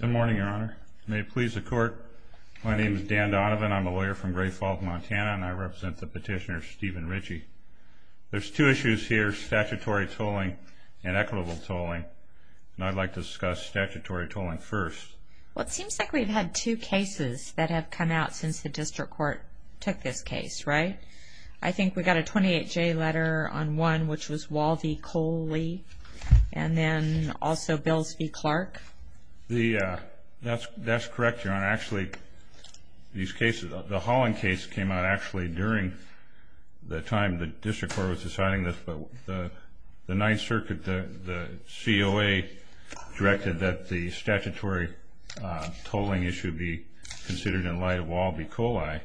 Good morning, your honor. May it please the court, my name is Dan Donovan. I'm a lawyer from Gray Falls, Montana, and I represent the petitioner Stephen Ritchie. There's two issues here, statutory tolling and equitable tolling, and I'd like to discuss statutory tolling first. Well, it seems like we've had two cases that have come out since the district court took this case, right? I think we got a 28-J letter on one, which was Wall v. Coley, and then also Bills v. Clark. That's correct, your honor. Actually, these cases, the Holland case came out actually during the time the district court was deciding this, but the 9th Circuit, the COA directed that the statutory tolling issue be considered in light of Wall v. Coley,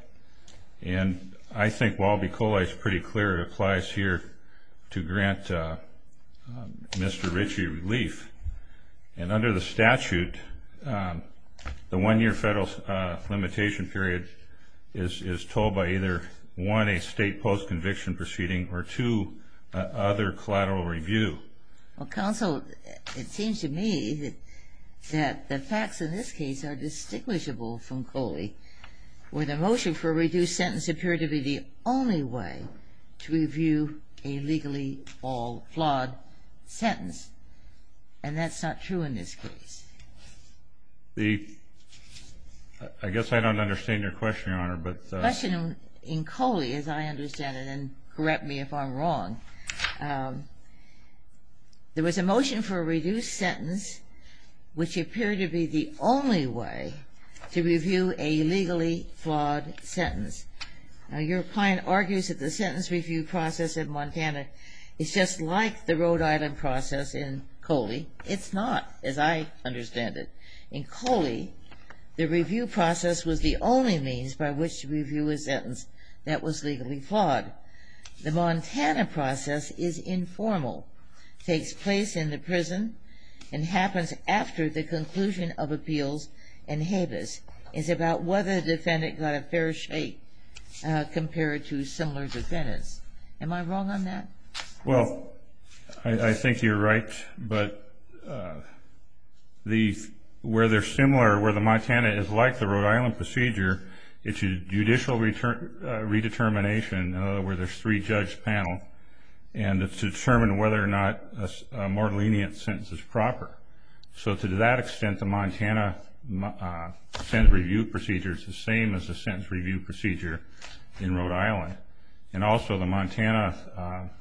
and I think Wall v. Coley is pretty clear it applies here to grant Mr. Ritchie relief. And under the statute, the one-year federal limitation period is told by either one, a state post-conviction proceeding, or two, other collateral review. Well, counsel, it seems to me that the facts in this case are distinguishable from Coley, where the motion for a reduced sentence appeared to be the only way to review a legally flawed sentence, and that's not true in this case. I guess I don't understand your question, your honor. The question in Coley, as I understand it, and correct me if I'm wrong, there was a motion for a reduced sentence, which appeared to be the only way to review a legally flawed sentence. Now, your client argues that the sentence review process in Montana is just like the Rhode Island process in Coley. It's not, as I understand it. In Coley, the review process was the only means by which to review a sentence that was legally flawed. The Montana process is informal, takes place in the prison, and happens after the conclusion of appeals in Habeas. It's about whether the defendant got a fair shake compared to similar defendants. Am I wrong on that? Well, I think you're right, but where they're similar, where the Montana is like the Rhode Island procedure, it's a judicial redetermination where there's three-judge panel, and it's to determine whether or not a more lenient sentence is proper. So to that extent, the Montana sentence review procedure is the same as the sentence review procedure in Rhode Island. And also, the Montana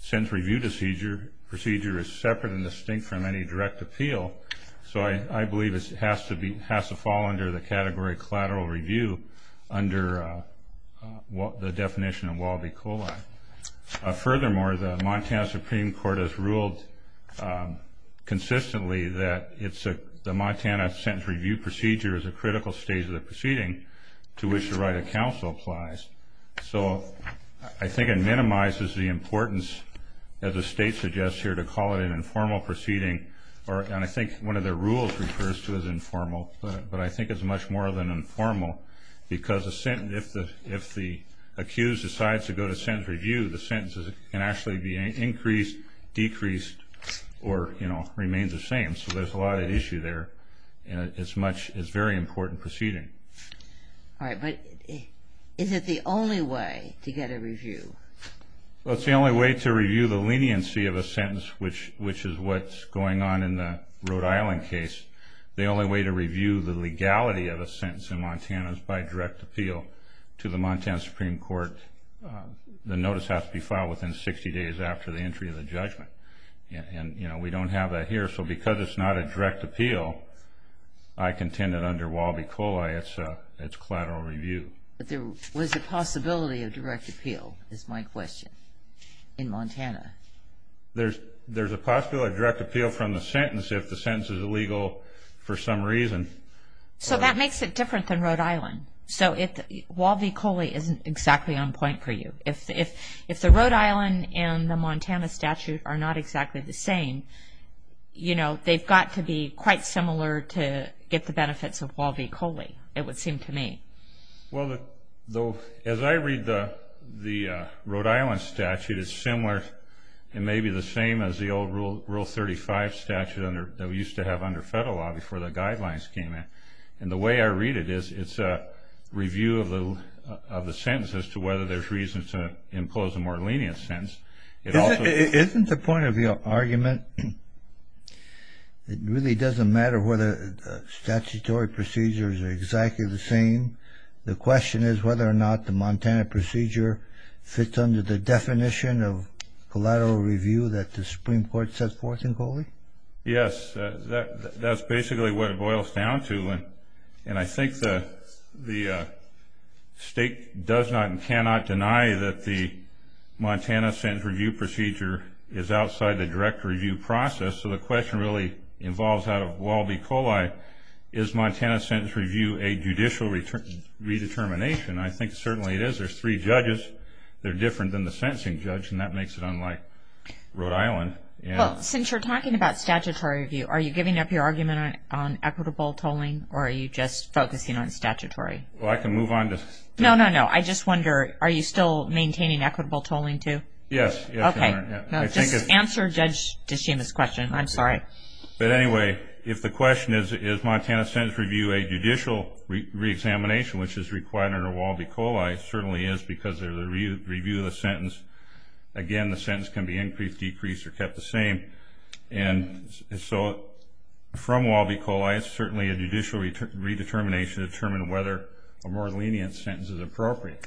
sentence review procedure is separate and distinct from any direct appeal, so I believe it has to fall under the category of collateral review under the definition of Walby-Coley. Furthermore, the Montana Supreme Court has ruled consistently that the Montana sentence review procedure is a critical stage of the proceeding to which the right of counsel applies. So I think it minimizes the importance, as the state suggests here, to call it an informal proceeding. And I think one of their rules refers to it as informal, but I think it's much more than informal, because if the accused decides to go to sentence review, the sentence can actually be increased, decreased, or remain the same. So there's a lot at issue there, and it's a very important proceeding. All right, but is it the only way to get a review? Well, it's the only way to review the leniency of a sentence, which is what's going on in the Rhode Island case. The only way to review the legality of a sentence in Montana is by direct appeal to the Montana Supreme Court. The notice has to be filed within 60 days after the entry of the judgment, and we don't have that here. So because it's not a direct appeal, I contend that under Walby-Coley, it's collateral review. But there was a possibility of direct appeal, is my question, in Montana. There's a possibility of direct appeal from the sentence if the sentence is illegal for some reason. So that makes it different than Rhode Island. So Walby-Coley isn't exactly on point for you. If the Rhode Island and the Montana statute are not exactly the same, you know, they've got to be quite similar to get the benefits of Walby-Coley, it would seem to me. Well, as I read the Rhode Island statute, it's similar and maybe the same as the old Rule 35 statute that we used to have under federal law before the guidelines came in. And the way I read it is it's a review of the sentence as to whether there's reason to impose a more lenient sentence. Isn't the point of your argument it really doesn't matter whether statutory procedures are exactly the same? The question is whether or not the Montana procedure fits under the definition of collateral review that the Supreme Court sets forth in Coley? Yes, that's basically what it boils down to. And I think the state does not and cannot deny that the Montana sentence review procedure is outside the direct review process. So the question really involves out of Walby-Coley, is Montana sentence review a judicial redetermination? I think certainly it is. There's three judges. They're different than the sentencing judge, and that makes it unlike Rhode Island. Well, since you're talking about statutory review, are you giving up your argument on equitable tolling or are you just focusing on statutory? Well, I can move on to... No, no, no. I just wonder, are you still maintaining equitable tolling, too? Yes, Your Honor. Okay. Just answer Judge DeShima's question. I'm sorry. But anyway, if the question is, is Montana sentence review a judicial reexamination, which is required under Walby-Coley, it certainly is because of the review of the sentence. Again, the sentence can be increased, decreased, or kept the same. And so from Walby-Coley, it's certainly a judicial redetermination to determine whether a more lenient sentence is appropriate.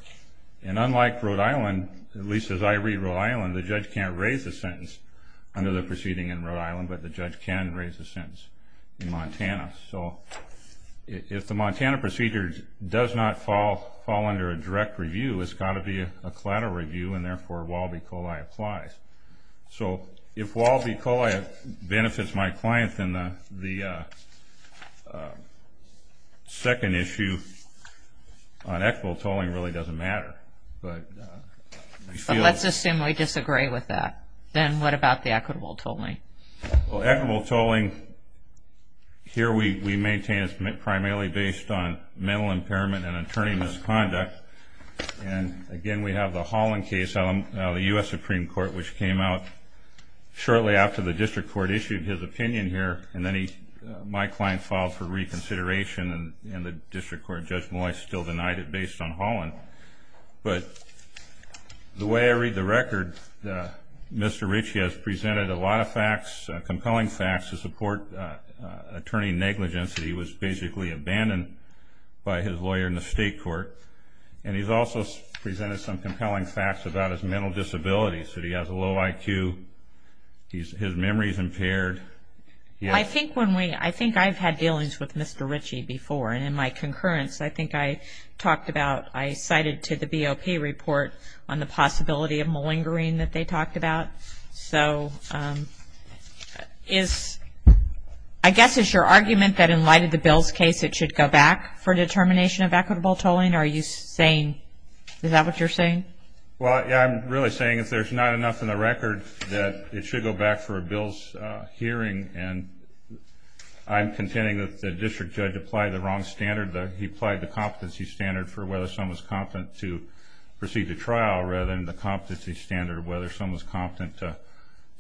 And unlike Rhode Island, at least as I read Rhode Island, the judge can't raise the sentence under the proceeding in Rhode Island, but the judge can raise the sentence in Montana. So if the Montana procedure does not fall under a direct review, it's got to be a collateral review, and therefore Walby-Coley applies. So if Walby-Coley benefits my client, then the second issue on equitable tolling really doesn't matter. But let's assume we disagree with that. Then what about the equitable tolling? Well, equitable tolling, here we maintain it's primarily based on mental impairment and attorney misconduct. And, again, we have the Holland case, the U.S. Supreme Court, which came out shortly after the district court issued his opinion here, and then my client filed for reconsideration, and the district court judge still denied it based on Holland. But the way I read the record, Mr. Ritchie has presented a lot of facts, compelling facts to support attorney negligence. He was basically abandoned by his lawyer in the state court, and he's also presented some compelling facts about his mental disabilities, that he has a low IQ, his memory is impaired. I think I've had dealings with Mr. Ritchie before, and in my concurrence I think I talked about, I cited to the BOP report on the possibility of malingering that they talked about. So I guess it's your argument that in light of the bill's case, it should go back for determination of equitable tolling? Is that what you're saying? Well, yeah, I'm really saying if there's not enough in the record, that it should go back for a bill's hearing, and I'm contending that the district judge applied the wrong standard. He applied the competency standard for whether someone was competent to proceed to trial, rather than the competency standard of whether someone was competent to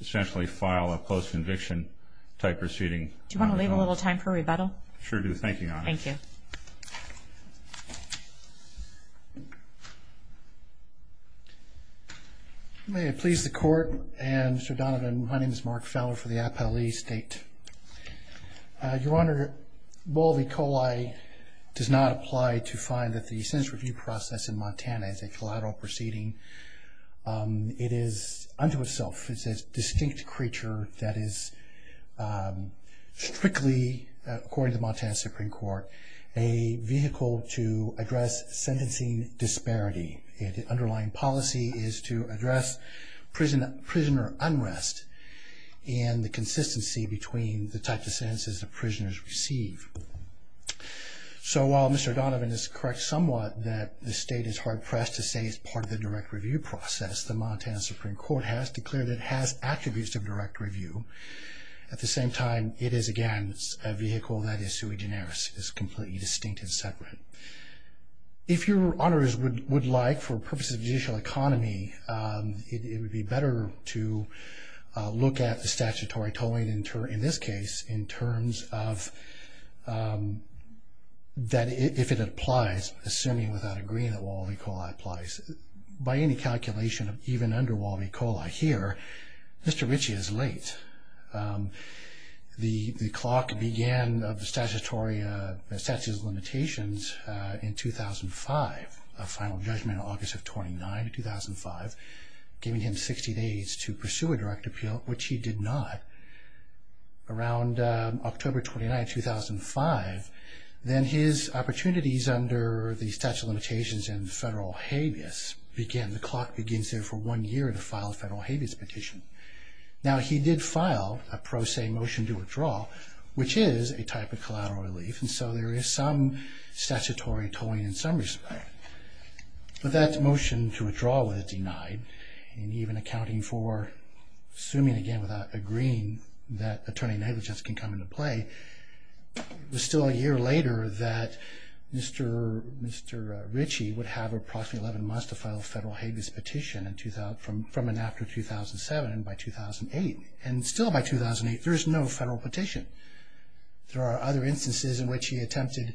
essentially file a post-conviction type proceeding. Do you want to leave a little time for rebuttal? Sure do. Thank you, Your Honor. Thank you. May it please the Court, and Mr. Donovan, my name is Mark Feller for the Appellee State. Your Honor, bold E. coli does not apply to find that the sentence review process in Montana is a collateral proceeding. It is unto itself a distinct creature that is strictly, according to the Montana Supreme Court, a vehicle to address sentencing disparity. The underlying policy is to address prisoner unrest and the consistency between the types of sentences that prisoners receive. So while Mr. Donovan is correct somewhat that the State is hard-pressed to say it's part of the direct review process, the Montana Supreme Court has declared it has attributes of direct review. At the same time, it is, again, a vehicle that is sui generis. It is completely distinct and separate. If Your Honors would like, for purposes of judicial economy, it would be better to look at the statutory tolling in this case in terms of that if it applies, assuming without agreeing that wallaby coli applies, by any calculation, even under wallaby coli here, Mr. Ritchie is late. The clock began of the statutory statute of limitations in 2005, a final judgment on August 29, 2005, giving him 60 days to pursue a direct appeal, which he did not. Around October 29, 2005, then his opportunities under the statute of limitations in federal habeas begin. The clock begins there for one year to file a federal habeas petition. Now, he did file a pro se motion to withdraw, which is a type of collateral relief, and so there is some statutory tolling in some respect. But that motion to withdraw was denied, and even accounting for assuming, again, without agreeing that attorney negligence can come into play, it was still a year later that Mr. Ritchie would have approximately 11 months to file a federal habeas petition from and after 2007 and by 2008. And still by 2008, there is no federal petition. There are other instances in which he attempted,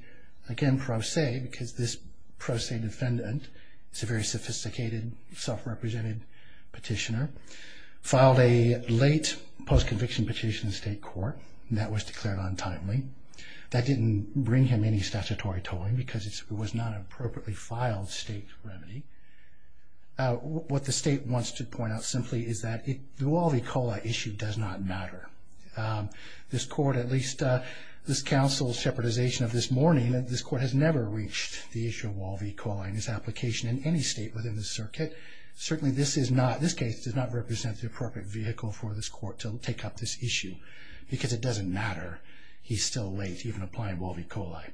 again, pro se, because this pro se defendant is a very sophisticated, self-represented petitioner, filed a late post-conviction petition in state court, and that was declared untimely. That didn't bring him any statutory tolling because it was not an appropriately filed state remedy. What the state wants to point out simply is that it, through all the E. coli issue, does not matter. This court, at least this counsel's shepherdization of this morning, that this court has never reached the issue of Wall v. Coli in its application in any state within the circuit, certainly this case does not represent the appropriate vehicle for this court to take up this issue because it doesn't matter. He's still late, even applying Wall v. Coli.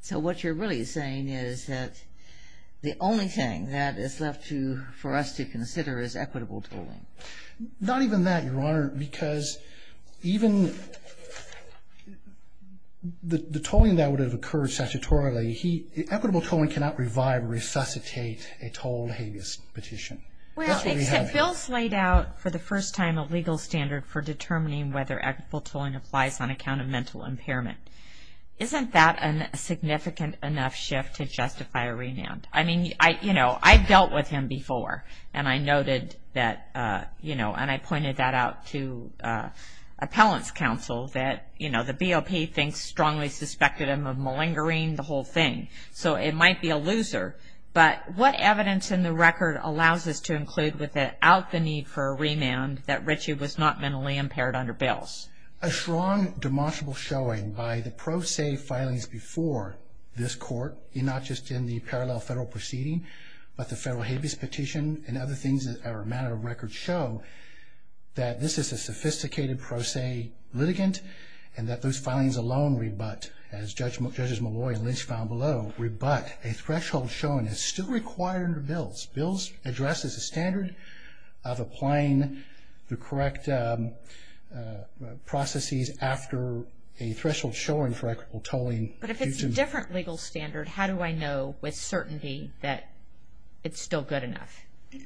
So what you're really saying is that the only thing that is left for us to consider is equitable tolling. Not even that, Your Honor, because even the tolling that would have occurred statutorily, equitable tolling cannot revive or resuscitate a tolled habeas petition. Except Bill's laid out for the first time a legal standard for determining whether equitable tolling applies on account of mental impairment. Isn't that a significant enough shift to justify a remand? I mean, you know, I've dealt with him before, and I noted that, you know, and I pointed that out to appellant's counsel that, you know, the BOP thinks strongly suspected him of malingering the whole thing. So it might be a loser. But what evidence in the record allows us to include without the need for a remand that Richie was not mentally impaired under Bills? A strong demonstrable showing by the pro se filings before this court, not just in the parallel federal proceeding, but the federal habeas petition and other things that are a matter of record show that this is a sophisticated pro se litigant and that those filings alone rebut, as Judges Malloy and Lynch found below, rebut a threshold shown is still required under Bills. Bills addresses a standard of applying the correct processes after a threshold showing for equitable tolling. But if it's a different legal standard, how do I know with certainty that it's still good enough?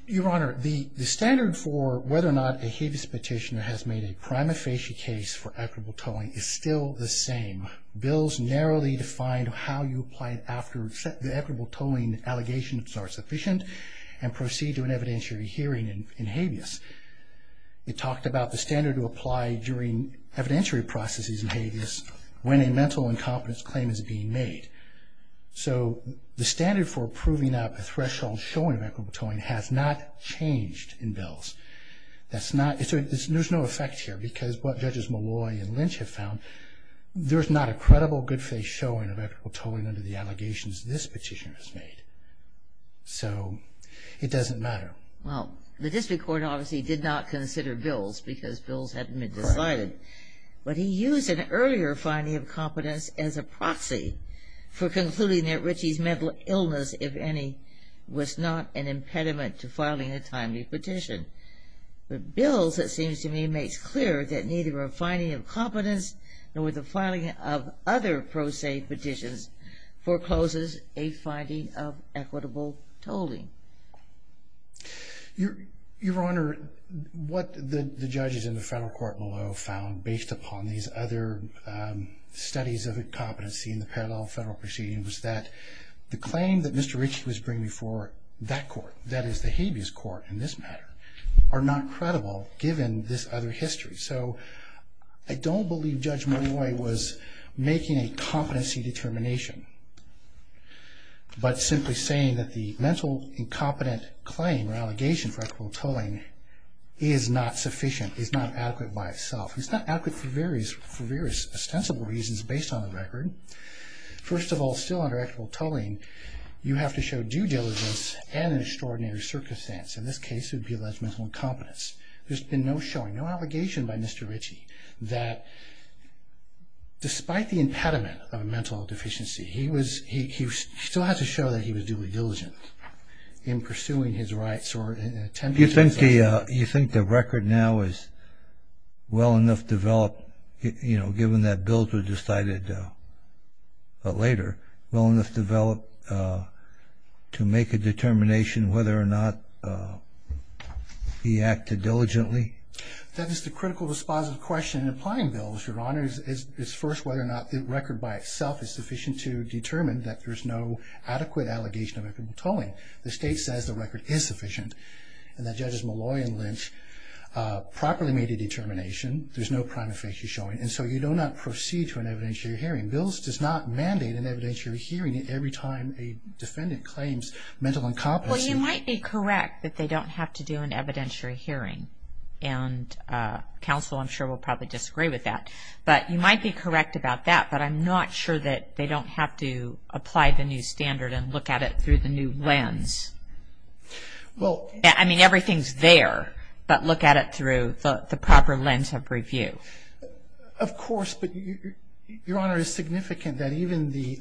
Your Honor, the standard for whether or not a habeas petitioner has made a prima facie case for equitable tolling is still the same. Bills narrowly defined how you apply it after the equitable tolling allegations are sufficient and proceed to an evidentiary hearing in habeas. It talked about the standard to apply during evidentiary processes in habeas when a mental incompetence claim is being made. So the standard for approving a threshold showing equitable tolling has not changed in Bills. There's no effect here because what Judges Malloy and Lynch have found, there's not a credible good face showing of equitable tolling under the allegations this petitioner has made. So it doesn't matter. Well, the district court obviously did not consider Bills because Bills hadn't been decided. But he used an earlier finding of competence as a proxy for concluding that Ritchie's mental illness, if any, was not an impediment to filing a timely petition. But Bills, it seems to me, makes clear that neither a finding of competence nor the filing of other pro se petitions forecloses a finding of equitable tolling. Your Honor, what the judges in the federal court below found based upon these other studies of incompetency in the parallel federal proceedings was that the claim that Mr. Ritchie was bringing for that court, that is the habeas court in this matter, are not credible given this other history. So I don't believe Judge Malloy was making a competency determination, but simply saying that the mental incompetent claim or allegation for equitable tolling is not sufficient, is not adequate by itself. It's not adequate for various ostensible reasons based on the record. First of all, still under equitable tolling, you have to show due diligence and an extraordinary circumstance. In this case, it would be alleged mental incompetence. There's been no showing, no allegation by Mr. Ritchie, that despite the impediment of a mental deficiency, he still had to show that he was duly diligent in pursuing his rights or in attempting to... You think the record now is well enough developed, given that Bills was decided later, well enough developed to make a determination whether or not he acted diligently? That is the critical, dispositive question in applying Bills, Your Honor. It's first whether or not the record by itself is sufficient to determine that there's no adequate allegation of equitable tolling. The state says the record is sufficient, and that Judges Malloy and Lynch properly made a determination. There's no prima facie showing, and so you do not proceed to an evidentiary hearing. Bills does not mandate an evidentiary hearing every time a defendant claims mental incompetency. Well, you might be correct that they don't have to do an evidentiary hearing, and counsel, I'm sure, will probably disagree with that. But you might be correct about that, but I'm not sure that they don't have to apply the new standard and look at it through the new lens. I mean, everything's there, but look at it through the proper lens of review. Of course, but, Your Honor, it's significant that even the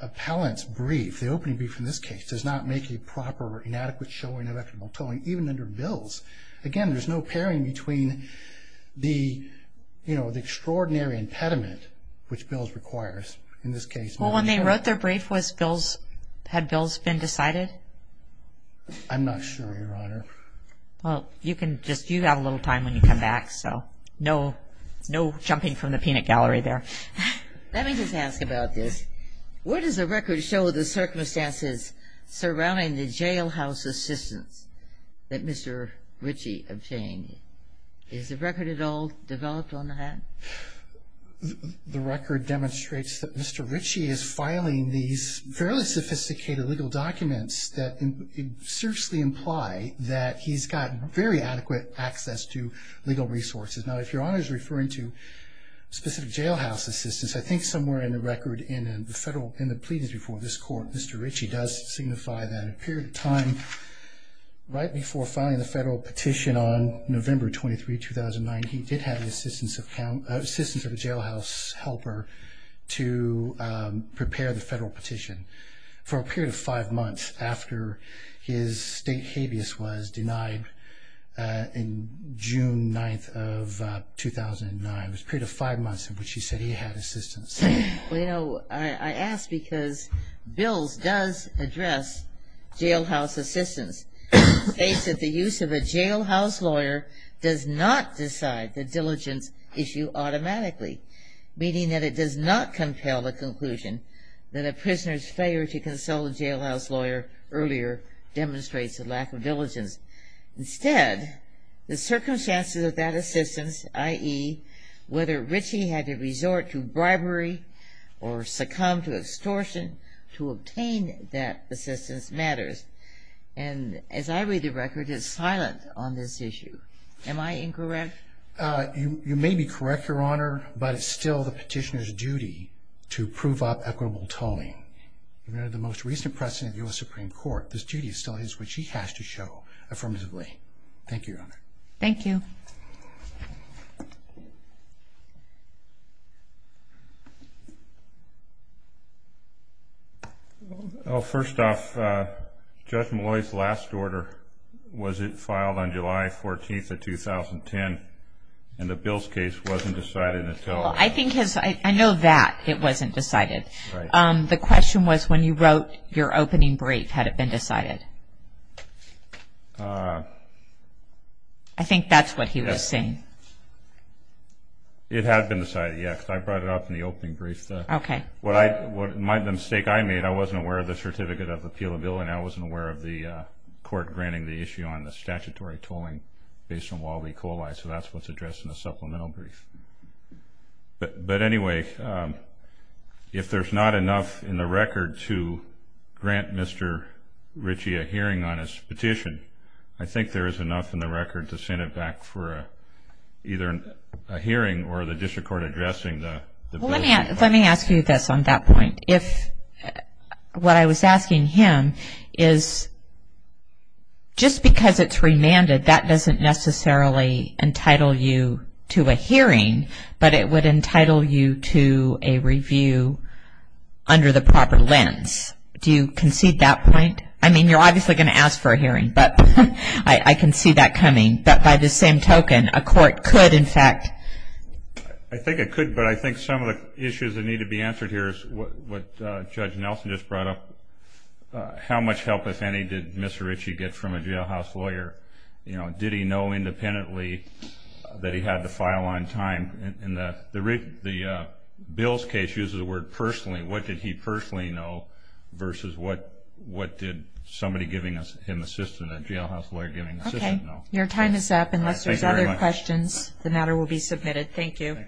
appellant's brief, the opening brief in this case, does not make a proper or inadequate showing of equitable tolling, even under Bills. Again, there's no pairing between the extraordinary impediment, which Bills requires, in this case. Well, when they wrote their brief, had Bills been decided? I'm not sure, Your Honor. Well, you have a little time when you come back, so no jumping from the peanut gallery there. Let me just ask about this. Where does the record show the circumstances surrounding the jailhouse assistance that Mr. Ritchie obtained? Is the record at all developed on that? The record demonstrates that Mr. Ritchie is filing these fairly sophisticated legal documents that seriously imply that he's got very adequate access to legal resources. Now, if Your Honor is referring to specific jailhouse assistance, I think somewhere in the record in the pleadings before this Court, Mr. Ritchie does signify that a period of time right before filing the federal petition on November 23, 2009, he did have the assistance of a jailhouse helper to prepare the federal petition. For a period of five months after his state habeas was denied on June 9, 2009. It was a period of five months in which he said he had assistance. Well, you know, I ask because Bills does address jailhouse assistance. He states that the use of a jailhouse lawyer does not decide the diligence issue automatically, meaning that it does not compel the conclusion that a prisoner's failure to consult a jailhouse lawyer earlier demonstrates a lack of diligence. Instead, the circumstances of that assistance, i.e., whether Ritchie had to resort to bribery or succumb to extortion to obtain that assistance matters. And as I read the record, it's silent on this issue. Am I incorrect? You may be correct, Your Honor, but it's still the petitioner's duty to prove up equitable tolling. Under the most recent precedent of the U.S. Supreme Court, this duty still is what she has to show affirmatively. Thank you, Your Honor. Thank you. Well, first off, Judge Malloy's last order, was it filed on July 14th of 2010? And the Bills case wasn't decided until then. I know that it wasn't decided. Right. The question was when you wrote your opening brief, had it been decided? I think that's what he was saying. It had been decided, yes. I brought it up in the opening brief. Okay. The mistake I made, I wasn't aware of the Certificate of Appeal Bill, and I wasn't aware of the court granting the issue on the statutory tolling based on Walby-Coli, so that's what's addressed in the supplemental brief. But anyway, if there's not enough in the record to grant Mr. Ritchie a hearing on his petition, I think there is enough in the record to send it back for either a hearing or the district court addressing the Bill. Let me ask you this on that point. What I was asking him is just because it's remanded, that doesn't necessarily entitle you to a hearing, but it would entitle you to a review under the proper lens. Do you concede that point? I mean, you're obviously going to ask for a hearing, but I can see that coming. But by the same token, a court could, in fact. I think it could, but I think some of the issues that need to be answered here is what Judge Nelson just brought up. How much help, if any, did Mr. Ritchie get from a jailhouse lawyer? Did he know independently that he had the file on time? In Bill's case, he uses the word personally. What did he personally know versus what did somebody giving him assistance, a jailhouse lawyer giving assistance know? Your time is up. Unless there's other questions, the matter will be submitted. Thank you.